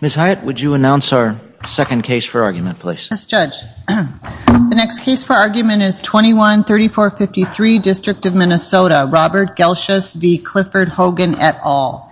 Ms. Hyatt, would you announce our second case for argument, please? Yes, Judge. The next case for argument is 21-3453, District of Minnesota. Robert Gelschus v. Clifford Hogen et al.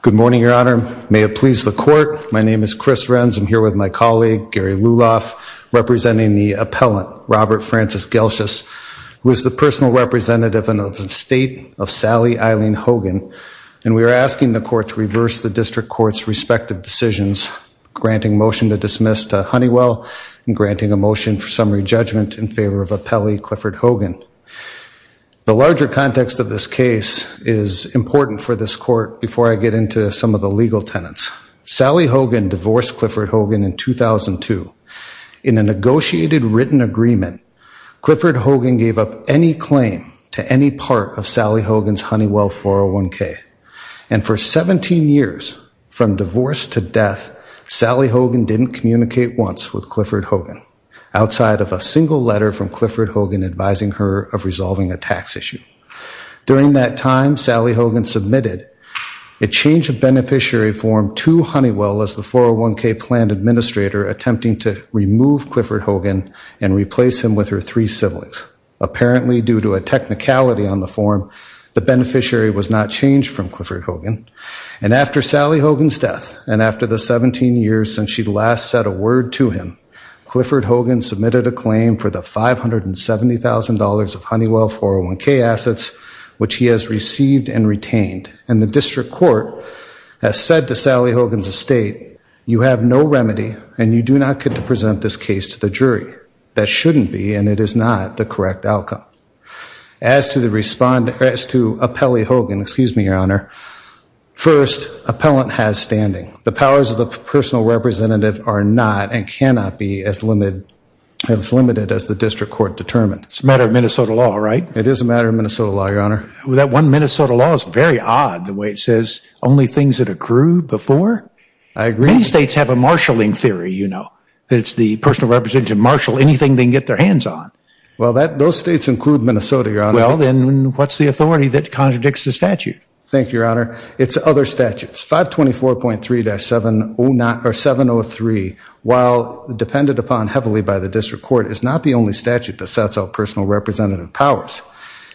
Good morning, Your Honor. Your Honor, may it please the Court, my name is Chris Renz. I'm here with my colleague, Gary Luloff, representing the appellant, Robert Francis Gelschus, who is the personal representative of the State of Sally Eileen Hogen, and we are asking the Court to reverse the District Court's respective decisions, granting motion to dismiss to Honeywell and granting a motion for summary judgment in favor of appellee Clifford Hogen. The larger context of this case is important for this Court before I get into some of the legal tenets. Sally Hogen divorced Clifford Hogen in 2002. In a negotiated written agreement, Clifford Hogen gave up any claim to any part of Sally Hogen's Honeywell 401k, and for 17 years, from divorce to death, Sally Hogen didn't communicate once with Clifford Hogen, outside of a single letter from Clifford Hogen advising her of resolving a tax issue. During that time, Sally Hogen submitted a change of beneficiary form to Honeywell as the 401k plan administrator, attempting to remove Clifford Hogen and replace him with her three siblings. Apparently, due to a technicality on the form, the beneficiary was not changed from Clifford Hogen, and after Sally Hogen's death, and after the 17 years since she last said a word to him, Clifford Hogen submitted a claim for the $570,000 of Honeywell 401k assets, which he has received and retained, and the District Court has said to Sally Hogen's estate, you have no remedy, and you do not get to present this case to the jury. That shouldn't be, and it is not, the correct outcome. As to the respondent, as to appellee Hogen, excuse me, Your Honor, first, appellant has standing. The powers of the personal representative are not and cannot be as limited as the District Court determined. It's a matter of Minnesota law, right? It is a matter of Minnesota law, Your Honor. That one Minnesota law is very odd, the way it says, only things that accrue before. I agree. Many states have a marshalling theory, you know. It's the personal representative to marshal anything they can get their hands on. Well, those states include Minnesota, Your Honor. Well, then what's the authority that contradicts the statute? Thank you, Your Honor. It's other statutes. 524.3-703, while depended upon heavily by the District Court, is not the only statute that sets out personal representative powers.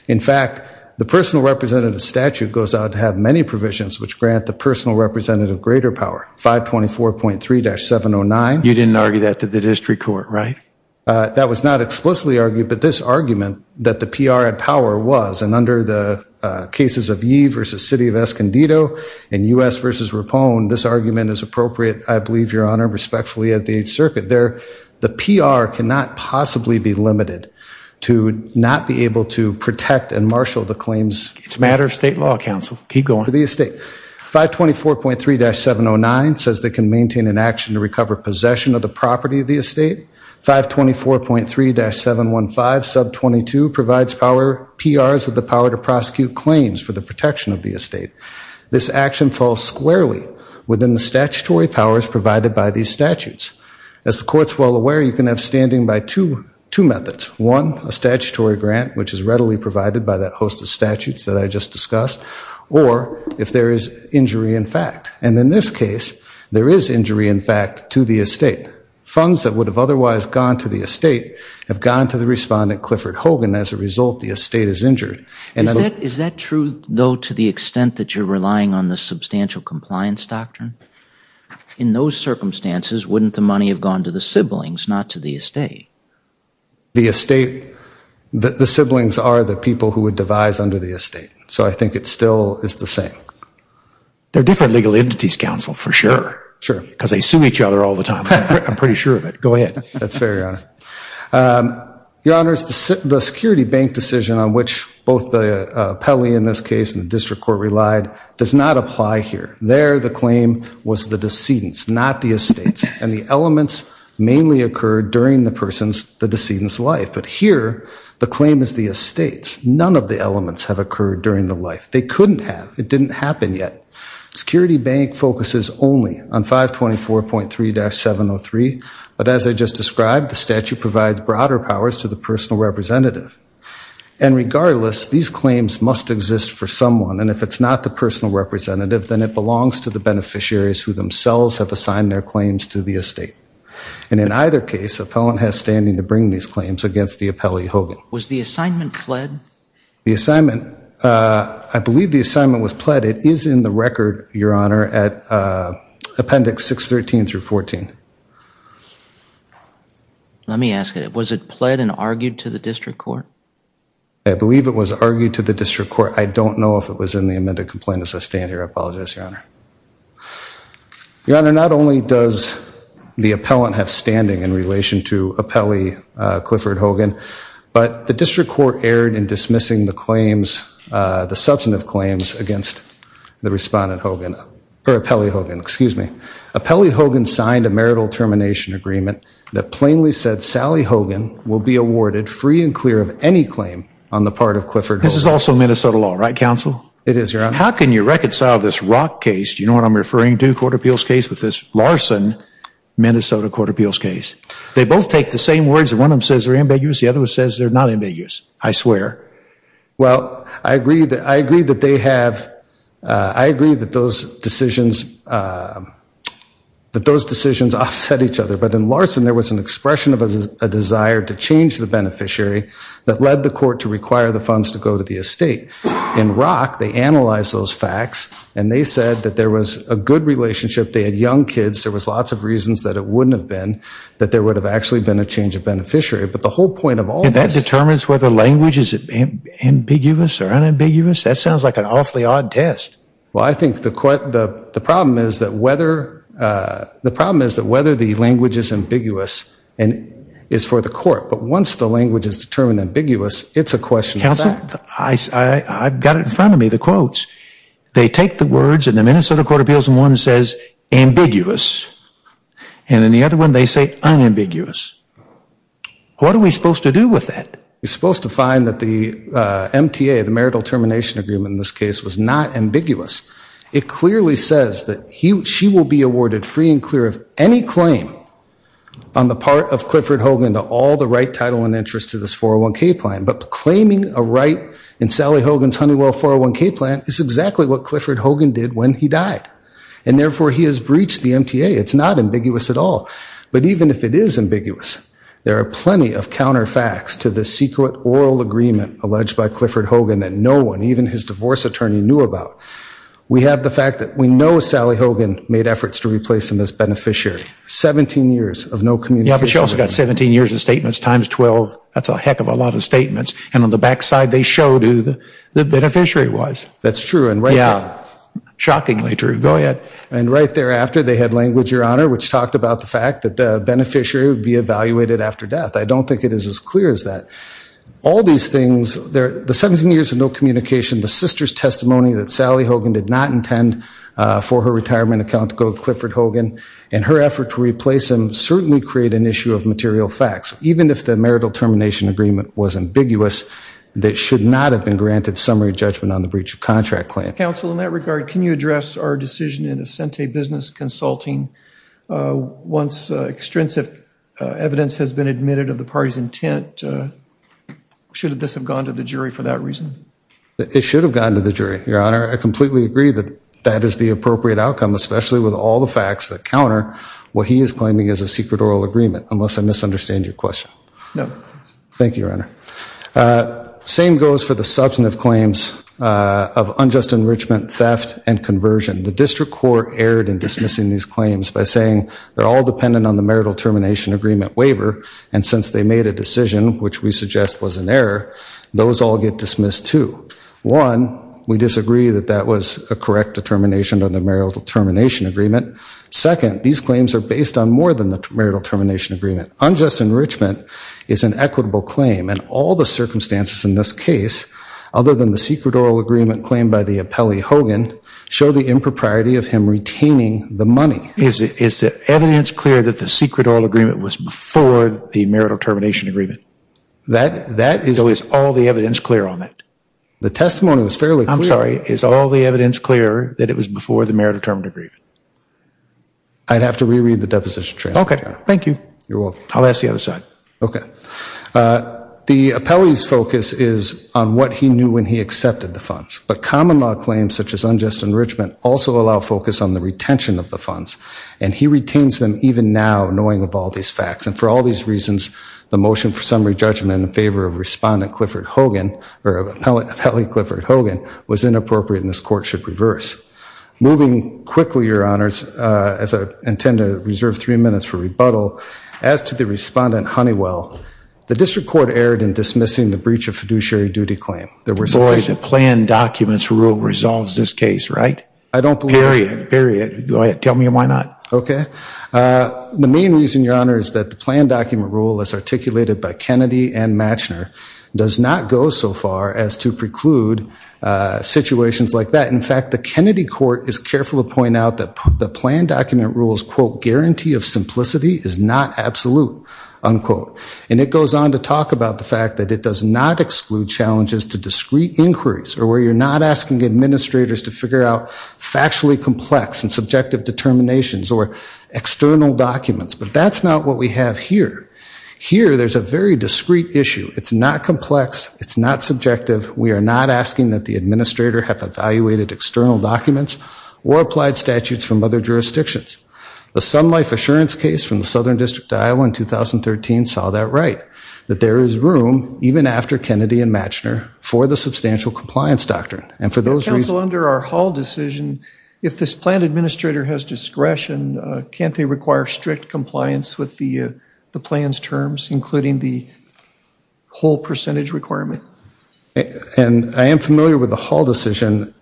In fact, the personal representative statute goes out to have many provisions which grant the personal representative greater power, 524.3-709. You didn't argue that to the District Court, right? That was not explicitly argued, but this argument that the PR had power was, and under the cases of Yee v. City of Escondido and U.S. v. Rapone, this argument is appropriate, I believe, Your Honor, respectfully at the 8th Circuit. The PR cannot possibly be limited to not be able to protect and marshal the claims. It's a matter of state law, counsel. Keep going. To the estate. 524.3-709 says they can maintain an action to recover possession of the property of the estate. 524.3-715, sub 22, provides PRs with the power to prosecute claims for the protection of the estate. This action falls squarely within the statutory powers provided by these statutes. As the Court's well aware, you can have standing by two methods. One, a statutory grant, which is readily provided by that host of statutes that I just discussed, or if there is injury in fact. And in this case, there is injury in fact to the estate. Funds that would have otherwise gone to the estate have gone to the respondent, Clifford Hogan. As a result, the estate is injured. Is that true though to the extent that you're relying on the substantial compliance doctrine? In those circumstances, wouldn't the money have gone to the siblings, not to the estate? The estate, the siblings are the people who would devise under the estate. So I think it still is the same. They're different legal entities, counsel, for sure. Sure. Because they sue each other all the time. I'm pretty sure of it. Go ahead. That's fair, Your Honor. Your Honors, the security bank decision on which both the appellee in this case and the district court relied does not apply here. There the claim was the decedent's, not the estate's. And the elements mainly occurred during the person's, the decedent's life. But here the claim is the estate's. None of the elements have occurred during the life. They couldn't have. It didn't happen yet. Security bank focuses only on 524.3-703. But as I just described, the statute provides broader powers to the personal representative. And regardless, these claims must exist for someone. And if it's not the personal representative, then it belongs to the beneficiaries who themselves have assigned their claims to the estate. And in either case, appellant has standing to bring these claims against the appellee, Hogan. Was the assignment pled? The assignment, I believe the assignment was pled. It is in the record, Your Honor, at Appendix 613-14. Let me ask it. Was it pled and argued to the district court? I believe it was argued to the district court. I don't know if it was in the amended complaint. As I stand here, I apologize, Your Honor. Your Honor, not only does the appellant have standing in relation to appellee Clifford Hogan, but the district court erred in dismissing the claims, the substantive claims, against the respondent Hogan, or appellee Hogan, excuse me. Appellee Hogan signed a marital termination agreement that plainly said Sally Hogan will be awarded free and clear of any claim on the part of Clifford Hogan. This is also Minnesota law, right, counsel? It is, Your Honor. How can you reconcile this Rock case, do you know what I'm referring to, court appeals case, with this Larson, Minnesota court appeals case? They both take the same words. One of them says they're ambiguous. The other one says they're not ambiguous, I swear. Well, I agree that they have, I agree that those decisions offset each other. But in Larson, there was an expression of a desire to change the beneficiary that led the court to require the funds to go to the estate. In Rock, they analyzed those facts, and they said that there was a good relationship. They had young kids. There was lots of reasons that it wouldn't have been. That there would have actually been a change of beneficiary. But the whole point of all this. And that determines whether language is ambiguous or unambiguous? That sounds like an awfully odd test. Well, I think the problem is that whether the language is ambiguous is for the court. But once the language is determined ambiguous, it's a question of fact. Counsel, I've got it in front of me, the quotes. They take the words in the Minnesota court appeals, and one says ambiguous. And in the other one, they say unambiguous. What are we supposed to do with that? We're supposed to find that the MTA, the marital termination agreement in this case, was not ambiguous. It clearly says that she will be awarded free and clear of any claim on the part of Clifford Hogan to all the right, title, and interest to this 401K plan. But claiming a right in Sally Hogan's Honeywell 401K plan is exactly what Clifford Hogan did when he died. And therefore, he has breached the MTA. It's not ambiguous at all. But even if it is ambiguous, there are plenty of counter facts to the secret oral agreement alleged by Clifford Hogan that no one, even his divorce attorney, knew about. We have the fact that we know Sally Hogan made efforts to replace him as beneficiary. 17 years of no communication. Yeah, but she also got 17 years of statements times 12. That's a heck of a lot of statements. And on the back side, they showed who the beneficiary was. That's true. Yeah. Shockingly true. Go ahead. And right thereafter, they had language, Your Honor, which talked about the fact that the beneficiary would be evaluated after death. I don't think it is as clear as that. All these things, the 17 years of no communication, the sister's testimony that Sally Hogan did not intend for her retirement account to go to Clifford Hogan, and her effort to replace him certainly create an issue of material facts. Even if the marital termination agreement was ambiguous, that should not have been granted summary judgment on the breach of contract claim. Counsel, in that regard, can you address our decision in Ascente Business Consulting? Once extrinsic evidence has been admitted of the party's intent, should this have gone to the jury for that reason? It should have gone to the jury, Your Honor. I completely agree that that is the appropriate outcome, especially with all the facts that counter what he is claiming is a secret oral agreement, unless I misunderstand your question. No. Thank you, Your Honor. Same goes for the substantive claims of unjust enrichment, theft, and conversion. The district court erred in dismissing these claims by saying they're all dependent on the marital termination agreement waiver, and since they made a decision which we suggest was an error, those all get dismissed too. One, we disagree that that was a correct determination of the marital termination agreement. Second, these claims are based on more than the marital termination agreement. Unjust enrichment is an equitable claim, and all the circumstances in this case, other than the secret oral agreement claimed by the appellee, Hogan, show the impropriety of him retaining the money. Is the evidence clear that the secret oral agreement was before the marital termination agreement? So is all the evidence clear on that? The testimony was fairly clear. I'm sorry, is all the evidence clear that it was before the marital termination agreement? I'd have to reread the deposition. Okay, thank you. You're welcome. I'll ask the other side. Okay. The appellee's focus is on what he knew when he accepted the funds, but common law claims such as unjust enrichment also allow focus on the retention of the funds, and he retains them even now knowing of all these facts, and for all these reasons the motion for summary judgment in favor of Respondent Clifford Hogan, or Appellee Clifford Hogan, was inappropriate and this court should reverse. Moving quickly, Your Honors, as I intend to reserve three minutes for rebuttal, as to the Respondent Honeywell, the district court erred in dismissing the breach of fiduciary duty claim. Boy, the planned documents rule resolves this case, right? Period. Period. Go ahead. Tell me why not. Okay. The main reason, Your Honor, is that the planned document rule as articulated by Kennedy and Matchner does not go so far as to preclude situations like that. In fact, the Kennedy court is careful to point out that the planned document rule's, quote, guarantee of simplicity is not absolute, unquote. And it goes on to talk about the fact that it does not exclude challenges to discreet inquiries or where you're not asking administrators to figure out factually complex and subjective determinations or external documents. But that's not what we have here. Here there's a very discreet issue. It's not complex. It's not subjective. We are not asking that the administrator have evaluated external documents or applied statutes from other jurisdictions. The Sun Life Assurance case from the Southern District of Iowa in 2013 saw that right, that there is room, even after Kennedy and Matchner, for the substantial compliance doctrine. And for those reasons. Counsel, under our Hall decision, if this planned administrator has discretion, can't they require strict compliance with the plan's terms, including the whole percentage requirement? And I am familiar with the Hall decision.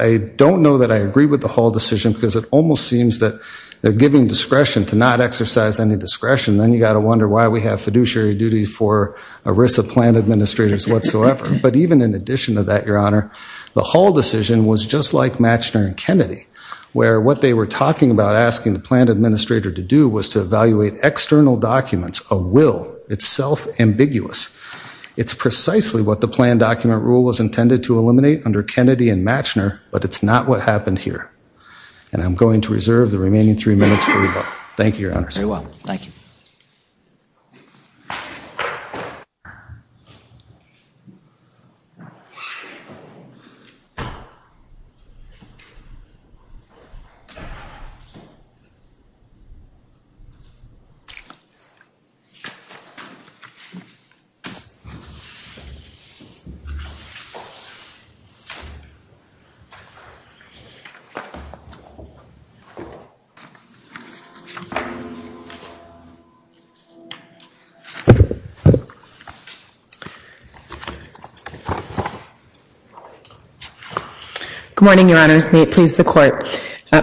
I don't know that I agree with the Hall decision because it almost seems that they're giving discretion to not exercise any discretion. Then you've got to wonder why we have fiduciary duty for a risk of plan administrators whatsoever. But even in addition to that, Your Honor, the Hall decision was just like Matchner and Kennedy, where what they were talking about asking the planned administrator to do was to evaluate external documents of will. It's self-ambiguous. It's precisely what the planned document rule was intended to eliminate under Kennedy and Matchner, but it's not what happened here. And I'm going to reserve the remaining three minutes for rebuttal. Thank you, Your Honor. Very well. Thank you. Good morning, Your Honors. May it please the Court.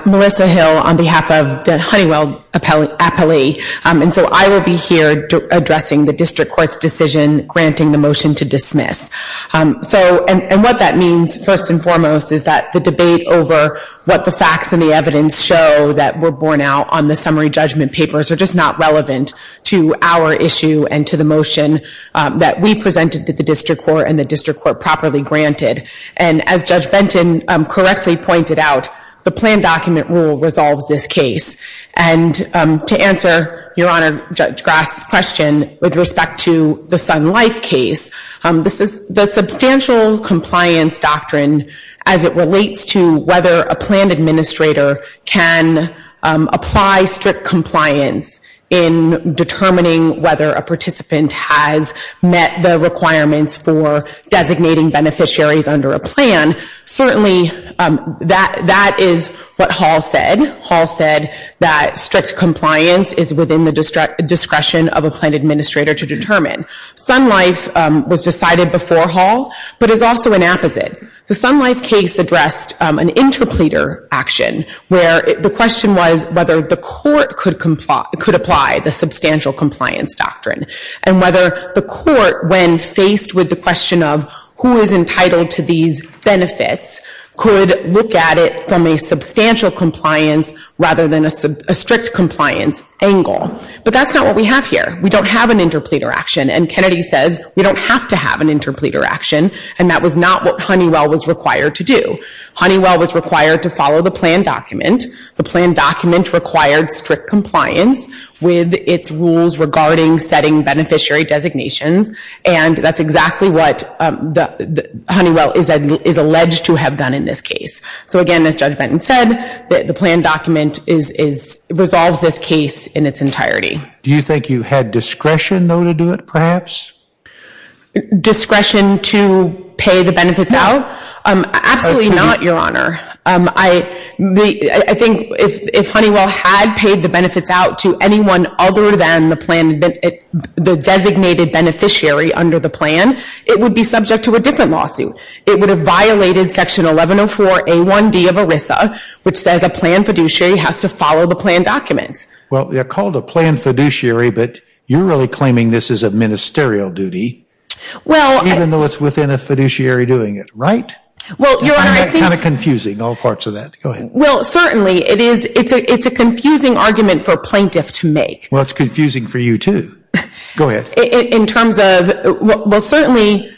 Melissa Hill on behalf of the Honeywell appellee. And so I will be here addressing the district court's decision granting the motion to dismiss. And what that means, first and foremost, is that the debate over what the facts and the evidence show that were borne out on the summary judgment papers are just not relevant to our issue and to the motion that we presented to the district court and the district court properly granted. And as Judge Benton correctly pointed out, the planned document rule resolves this case. And to answer Your Honor Judge Grass' question with respect to the Sun Life case, the substantial compliance doctrine as it relates to whether a planned administrator can apply strict compliance in determining whether a participant has met the requirements for designating beneficiaries under a plan, certainly that is what Hall said. Hall said that strict compliance is within the discretion of a planned administrator to determine. Sun Life was decided before Hall, but is also an apposite. The Sun Life case addressed an interpleader action where the question was whether the court could apply the substantial compliance doctrine. And whether the court, when faced with the question of who is entitled to these benefits, could look at it from a substantial compliance rather than a strict compliance angle. But that's not what we have here. We don't have an interpleader action. And Kennedy says we don't have to have an interpleader action. And that was not what Honeywell was required to do. Honeywell was required to follow the planned document. The planned document required strict compliance with its rules regarding setting beneficiary designations. And that's exactly what Honeywell is alleged to have done in this case. So again, as Judge Benton said, the planned document resolves this case in its entirety. Do you think you had discretion, though, to do it, perhaps? Discretion to pay the benefits out? Absolutely not, Your Honor. I think if Honeywell had paid the benefits out to anyone other than the designated beneficiary under the plan, it would be subject to a different lawsuit. It would have violated section 1104A1D of ERISA, which says a planned fiduciary has to follow the planned documents. Well, they're called a planned fiduciary, but you're really claiming this is a ministerial duty, even though it's within a fiduciary doing it, right? Kind of confusing, all parts of that. Well, certainly, it's a confusing argument for a plaintiff to make. Well, it's confusing for you, too. Go ahead. Well, certainly,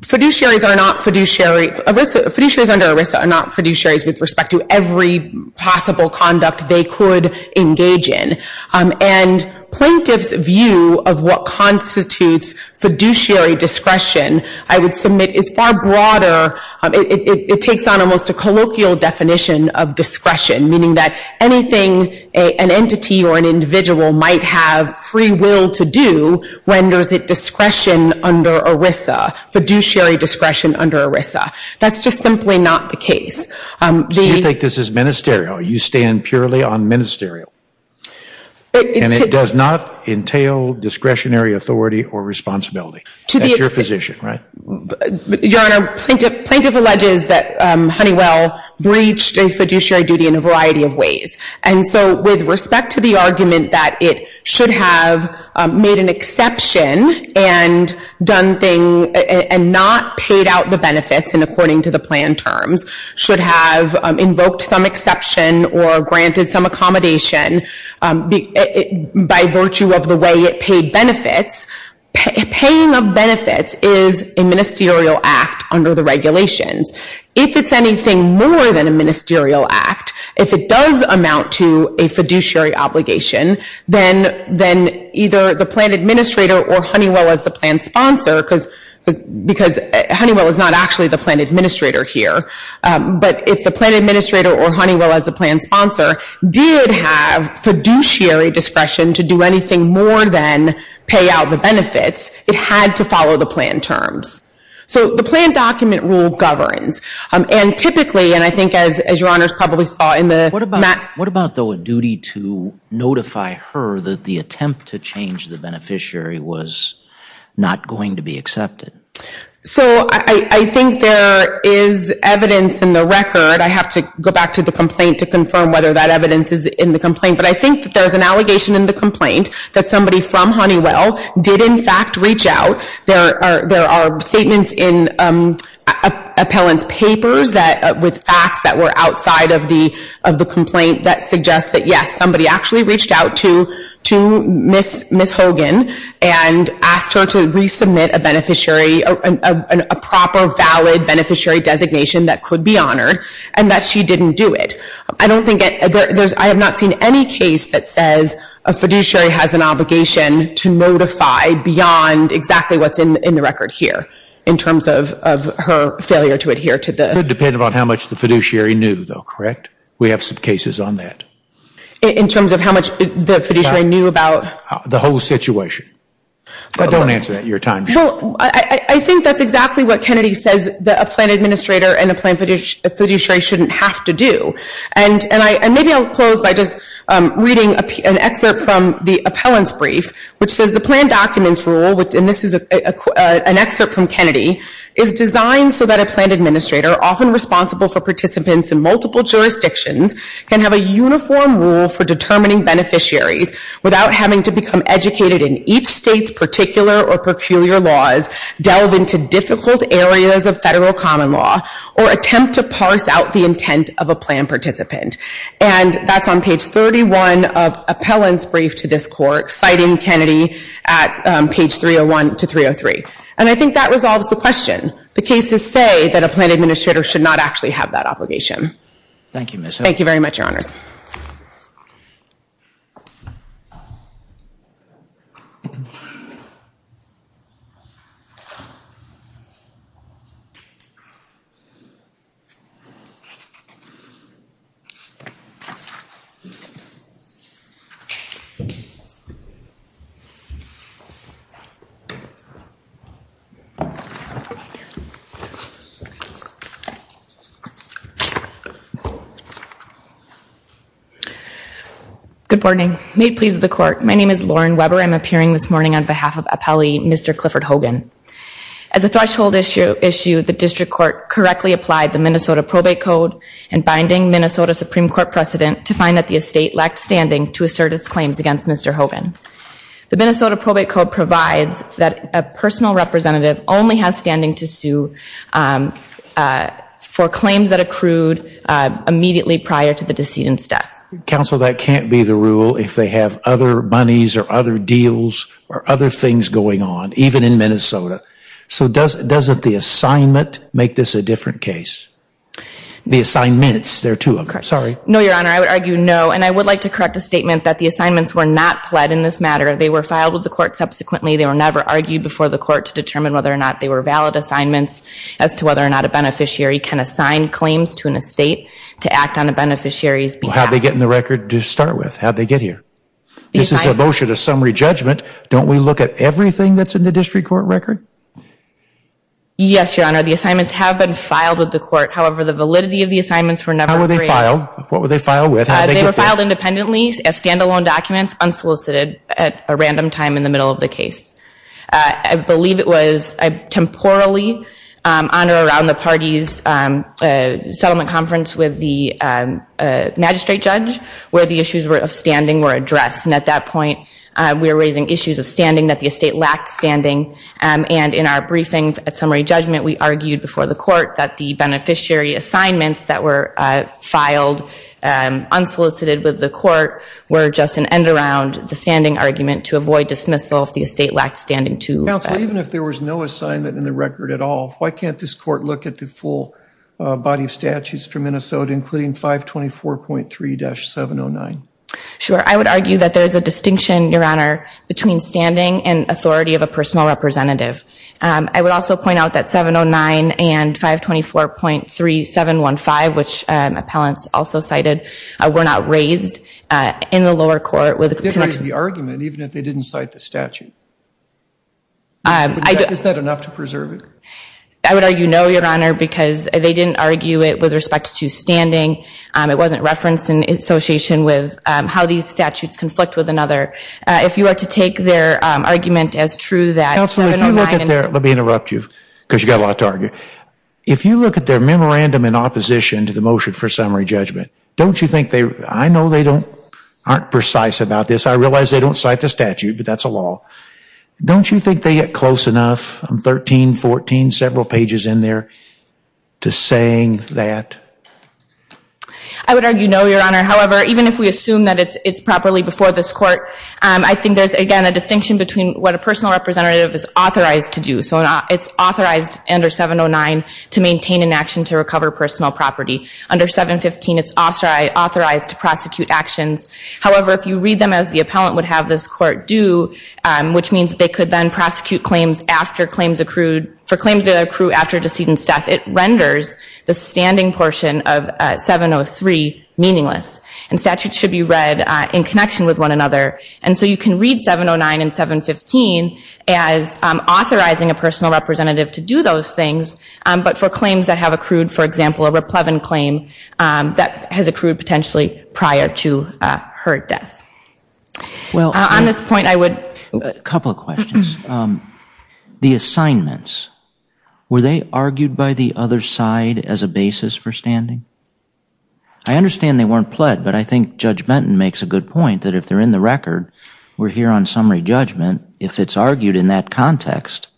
fiduciaries under ERISA are not fiduciaries with respect to every possible conduct they could engage in. And plaintiff's view of what constitutes fiduciary discretion, I would submit, is far broader. It takes on almost a colloquial definition of discretion, meaning that anything an entity or an individual might have free will to do renders it discretion under ERISA, fiduciary discretion under ERISA. That's just simply not the case. So you think this is ministerial. You stand purely on ministerial. And it does not entail discretionary authority or responsibility. That's your position, right? Your Honor, plaintiff alleges that Honeywell breached a fiduciary duty in a variety of ways. And so with respect to the argument that it should have made an exception and not paid out the benefits in according to the plan terms, should have invoked some exception or granted some accommodation by virtue of the way it paid benefits, paying of benefits is a ministerial act under the regulations. If it's anything more than a ministerial act, if it does amount to a fiduciary obligation, then either the plan administrator or Honeywell as the plan sponsor, because Honeywell is not actually the plan administrator here, but if the plan administrator or Honeywell as the plan sponsor did have fiduciary discretion to do anything more than pay out the benefits, it had to follow the plan terms. So the plan document rule governs. And typically, and I think as your Honors probably saw in the map. What about the duty to notify her that the attempt to change the beneficiary was not going to be accepted? So I think there is evidence in the record. I have to go back to the complaint to confirm whether that evidence is in the complaint. But I think that there's an allegation in the complaint that somebody from Honeywell did in fact reach out. There are statements in appellant's papers with facts that were outside of the complaint that suggests that yes, somebody actually reached out to Ms. Hogan and asked her to resubmit a beneficiary, a proper valid beneficiary designation that could be honored, and that she didn't do it. I have not seen any case that says a fiduciary has an obligation to notify beyond exactly what's in the record here, in terms of her failure to adhere to the... It would depend on how much the fiduciary knew though, correct? We have some cases on that. In terms of how much the fiduciary knew about... The whole situation. Don't answer that, your time is up. I think that's exactly what Kennedy says that a plan administrator and a plan fiduciary shouldn't have to do. And maybe I'll close by just reading an excerpt from the appellant's brief, which says the plan documents rule, and this is an excerpt from Kennedy, is designed so that a plan administrator, often responsible for participants in multiple jurisdictions, can have a uniform rule for determining beneficiaries, without having to become educated in each state's particular or peculiar laws, delve into difficult areas of federal common law, or attempt to parse out the intent of a plan participant. And that's on page 31 of appellant's brief to this court, citing Kennedy at page 301 to 303. And I think that resolves the question. The cases say that a plan administrator should not actually have that obligation. Thank you. Good morning. Made please of the court, my name is Lauren Weber. I'm appearing this morning on behalf of appellee Mr. Clifford Hogan. As a threshold issue, the district court correctly applied the Minnesota probate code and binding Minnesota Supreme Court precedent to find that the estate lacked standing to assert its claims against Mr. Hogan. The Minnesota probate code provides that a personal representative only has standing to sue for claims that accrued immediately prior to the decedent's death. Counsel, that can't be the rule if they have other monies or other deals or other things going on, even in Minnesota. So doesn't the assignment make this a different case? The assignments, there are two of them, sorry. No, your honor, I would argue no. And I would like to correct the statement that the assignments were not pled in this matter. They were filed with the court subsequently. They were never argued before the court to determine whether or not they were valid assignments as to whether or not a beneficiary can assign claims to an estate to act on a beneficiary's behalf. How'd they get in the record to start with? How'd they get here? This is a motion of summary judgment. Don't we look at everything that's in the district court record? Yes, your honor. The assignments have been filed with the court. However, the validity of the assignments were never raised. They were filed. What were they filed with? They were filed independently as stand-alone documents unsolicited at a random time in the middle of the case. I believe it was a temporally honor around the party's settlement conference with the magistrate judge where the issues of standing were addressed. And at that point, we were raising issues of standing that the estate lacked standing. And in our briefing at summary judgment, we argued before the court that the beneficiary assignments that were filed unsolicited with the court were just an end around the standing argument to avoid dismissal if the estate lacked standing to that. Counsel, even if there was no assignment in the record at all, why can't this court look at the full body of statutes for Minnesota, including 524.3-709? Sure. I would argue that there is a distinction, your honor, between standing and authority of a personal representative. I would also point out that 709 and 524.3-715, which appellants also cited, were not raised in the lower court. They didn't raise the argument even if they didn't cite the statute. Is that enough to preserve it? I would argue no, your honor, because they didn't argue it with respect to standing. It wasn't referenced in association with how these statutes conflict with another. If you were to take their argument as true, that 709 and 524.3-715. Counsel, if you look at their, let me interrupt you, because you've got a lot to argue. If you look at their memorandum in opposition to the motion for summary judgment, don't you think they, I know they aren't precise about this. I realize they don't cite the statute, but that's a law. Don't you think they get close enough, 13, 14, several pages in there, to saying that? I would argue no, your honor. However, even if we assume that it's properly before this court, I think there's, again, a distinction between what a personal representative is authorized to do. So it's authorized under 709 to maintain an action to recover personal property. Under 715, it's authorized to prosecute actions. However, if you read them as the appellant would have this court do, which means they could then prosecute claims after claims accrued, for claims that are accrued after a decedent's death, it renders the standing portion of 703 meaningless. And statutes should be read in connection with one another. And so you can read 709 and 715 as authorizing a personal representative to do those things, but for claims that have accrued, for example, a replevant claim, that has accrued potentially prior to her death. On this point, I would... A couple of questions. The assignments, were they argued by the other side as a basis for standing? I understand they weren't pled, but I think Judge Benton makes a good point that if they're in the record, we're here on summary judgment. If it's argued in that context,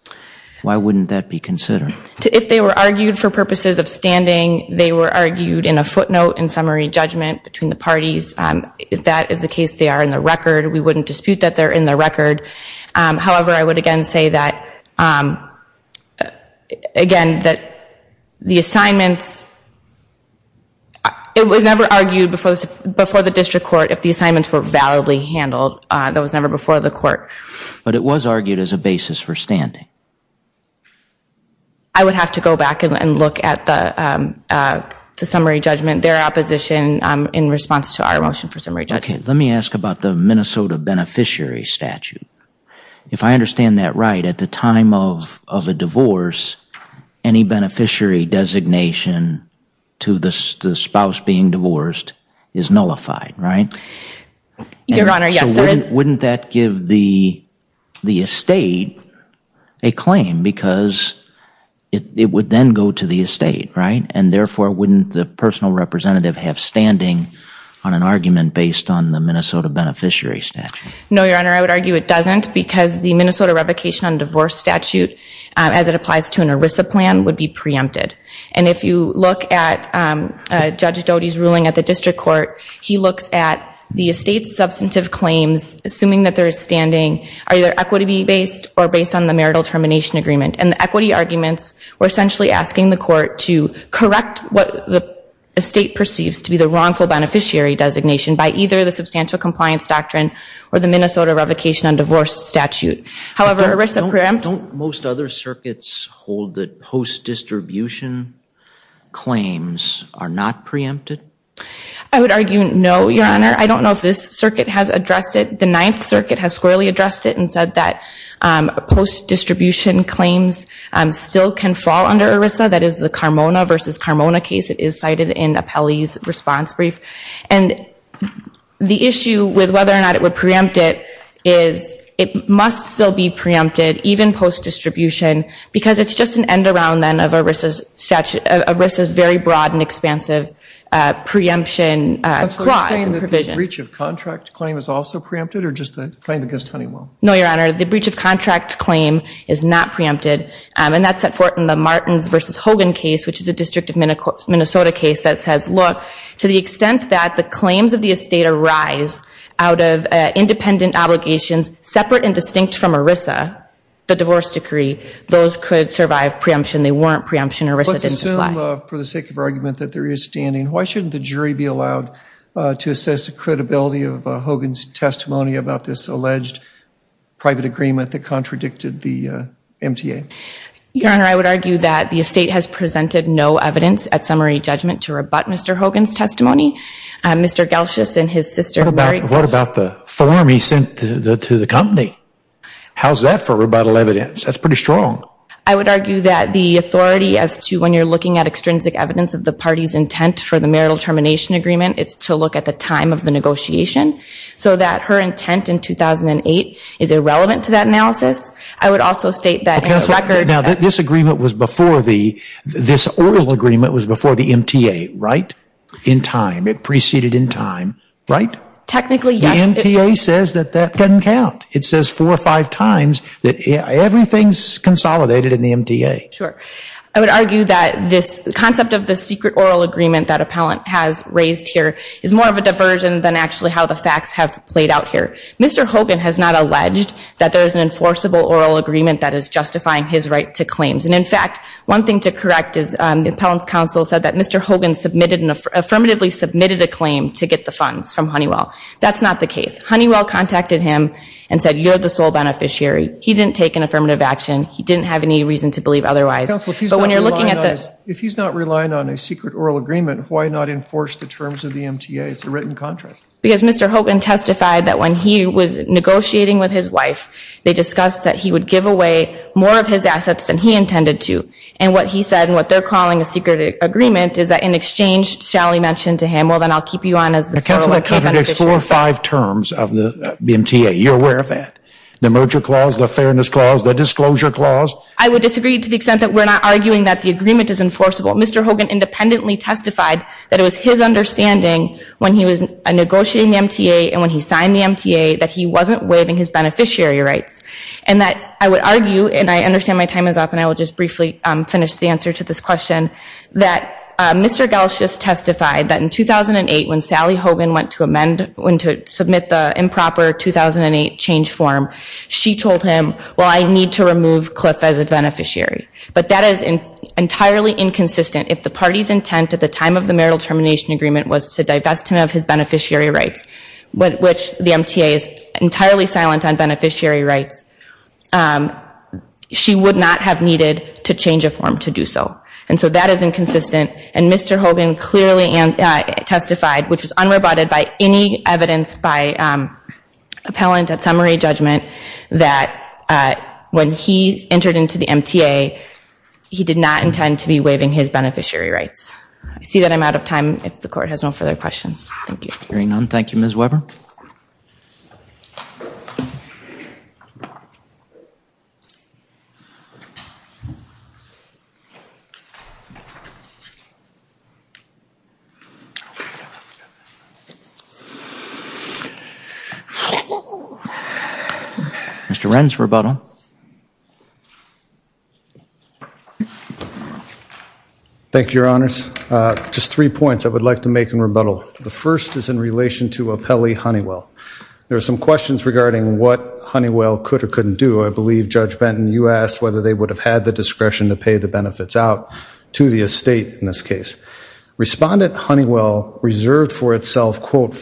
why wouldn't that be considered? If they were argued for purposes of standing, they were argued in a footnote in summary judgment between the parties. If that is the case, they are in the record. We wouldn't dispute that they're in the record. However, I would again say that, again, that the assignments... It was never argued before the district court if the assignments were validly handled. That was never before the court. But it was argued as a basis for standing. I would have to go back and look at the summary judgment. Their opposition in response to our motion for summary judgment. Let me ask about the Minnesota beneficiary statute. If I understand that right, at the time of a divorce, any beneficiary designation to the spouse being divorced is nullified, right? Your Honor, yes. Wouldn't that give the estate a claim because it would then go to the estate, right? And therefore, wouldn't the personal representative have standing on an argument based on the Minnesota beneficiary statute? No, Your Honor, I would argue it doesn't because the Minnesota revocation on divorce statute, as it applies to an ERISA plan, would be preempted. And if you look at Judge Doty's ruling at the district court, he looks at the estate's substantive claims, assuming that there is standing, are either equity-based or based on the marital termination agreement. And the equity arguments were essentially asking the court to correct what the estate perceives to be the wrongful beneficiary designation by either the substantial compliance doctrine or the Minnesota revocation on divorce statute. However, ERISA preempts... Don't most other circuits hold that post-distribution claims are not preempted? I would argue no, Your Honor. I don't know if this circuit has addressed it. The Ninth Circuit has squarely addressed it and said that post-distribution claims still can fall under ERISA. That is the Carmona v. Carmona case. It is cited in Apelli's response brief. And the issue with whether or not it would preempt it is it must still be preempted, even post-distribution, because it's just an end-around then of ERISA's very broad and expansive preemption clause and provision. Are you saying that the breach of contract claim is also preempted or just a claim against Honeywell? No, Your Honor. The breach of contract claim is not preempted, and that's at fort in the Martins v. Hogan case, which is a District of Minnesota case that says, look, to the extent that the claims of the estate arise out of independent obligations separate and distinct from ERISA, the divorce decree, those could survive preemption. They weren't preemption. ERISA didn't apply. Let's assume, for the sake of argument, that there is standing. Why shouldn't the jury be allowed to assess the credibility of Hogan's testimony about this alleged private agreement that contradicted the MTA? Your Honor, I would argue that the estate has presented no evidence at summary judgment to rebut Mr. Hogan's testimony. Mr. Gelschus and his sister Mary – What about the form he sent to the company? How's that for rebuttal evidence? That's pretty strong. I would argue that the authority as to when you're looking at extrinsic evidence of the party's intent for the marital termination agreement, it's to look at the time of the negotiation, so that her intent in 2008 is irrelevant to that analysis. I would also state that in the record – Counselor, now this agreement was before the – this oral agreement was before the MTA, right? In time. It preceded in time, right? Technically, yes. The MTA says that that doesn't count. It says four or five times that everything's consolidated in the MTA. Sure. I would argue that this concept of the secret oral agreement that Appellant has raised here is more of a diversion than actually how the facts have played out here. Mr. Hogan has not alleged that there is an enforceable oral agreement that is justifying his right to claims. And, in fact, one thing to correct is the Appellant's counsel said that Mr. Hogan affirmatively submitted a claim to get the funds from Honeywell. That's not the case. Honeywell contacted him and said, you're the sole beneficiary. He didn't take an affirmative action. He didn't have any reason to believe otherwise. If he's not relying on a secret oral agreement, why not enforce the terms of the MTA? It's a written contract. Because Mr. Hogan testified that when he was negotiating with his wife, they discussed that he would give away more of his assets than he intended to. And what he said, and what they're calling a secret agreement, is that in exchange, Shally mentioned to him, well, then I'll keep you on as the floor. Counselor, explore five terms of the MTA. You're aware of that. The merger clause, the fairness clause, the disclosure clause. I would disagree to the extent that we're not arguing that the agreement is enforceable. Mr. Hogan independently testified that it was his understanding when he was negotiating the MTA and when he signed the MTA that he wasn't waiving his beneficiary rights. And that I would argue, and I understand my time is up and I will just briefly finish the answer to this question, that Mr. Gelsch just testified that in 2008, when Sally Hogan went to submit the improper 2008 change form, she told him, well, I need to remove Cliff as a beneficiary. But that is entirely inconsistent. If the party's intent at the time of the marital termination agreement was to divest him of his beneficiary rights, which the MTA is entirely silent on beneficiary rights, she would not have needed to change a form to do so. And so that is inconsistent. And Mr. Hogan clearly testified, which was unrebutted by any evidence by appellant at summary judgment, that when he entered into the MTA, he did not intend to be waiving his beneficiary rights. I see that I'm out of time. If the Court has no further questions, thank you. Hearing none, thank you, Ms. Weber. Mr. Wren's rebuttal. Thank you, Your Honors. Just three points I would like to make in rebuttal. The first is in relation to appellee Honeywell. There are some questions regarding what Honeywell could or couldn't do. I believe, Judge Benton, you asked whether they would have had the discretion to pay the benefits out to the estate in this case. Respondent Honeywell reserved for itself, quote,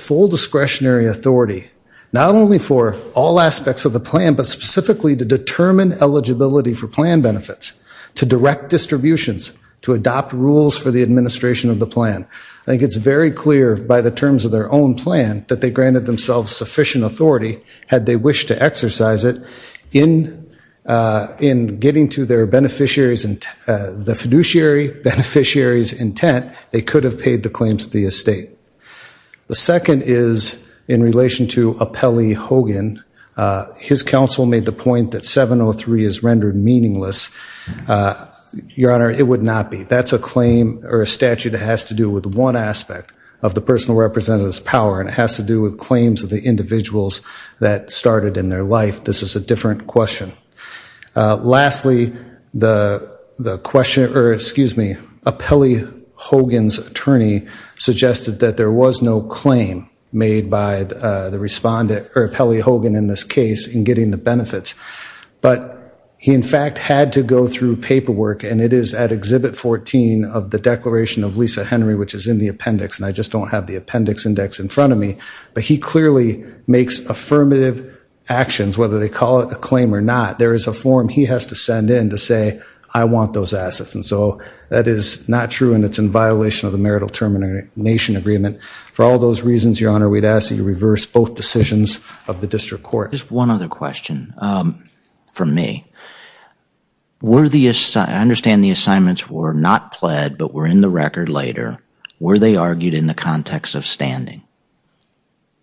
not only for all aspects of the plan, but specifically to determine eligibility for plan benefits, to direct distributions, to adopt rules for the administration of the plan. I think it's very clear by the terms of their own plan that they granted themselves sufficient authority, had they wished to exercise it, in getting to the fiduciary beneficiary's intent, they could have paid the claims to the estate. The second is in relation to appellee Hogan. His counsel made the point that 703 is rendered meaningless. Your Honor, it would not be. That's a claim or a statute that has to do with one aspect of the personal representative's power, and it has to do with claims of the individuals that started in their life. This is a different question. Lastly, the question, or excuse me, appellee Hogan's attorney suggested that there was no claim made by the respondent, or appellee Hogan in this case, in getting the benefits. But he in fact had to go through paperwork, and it is at Exhibit 14 of the Declaration of Lisa Henry, which is in the appendix, and I just don't have the appendix index in front of me. But he clearly makes affirmative actions, whether they call it a claim or not. There is a form he has to send in to say, I want those assets. And so that is not true, and it's in violation of the marital termination agreement. For all those reasons, Your Honor, we'd ask that you reverse both decisions of the district court. Just one other question from me. I understand the assignments were not pled, but were in the record later. Were they argued in the context of standing?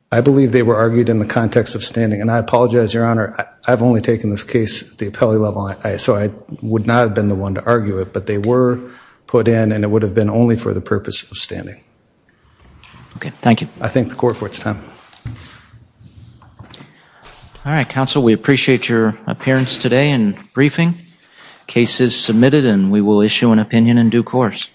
I believe they were argued in the context of standing. And I apologize, Your Honor, I've only taken this case at the appellee level, so I would not have been the one to argue it. But they were put in, and it would have been only for the purpose of standing. Okay, thank you. I thank the court for its time. All right, counsel, we appreciate your appearance today and briefing. The case is submitted, and we will issue an opinion in due course.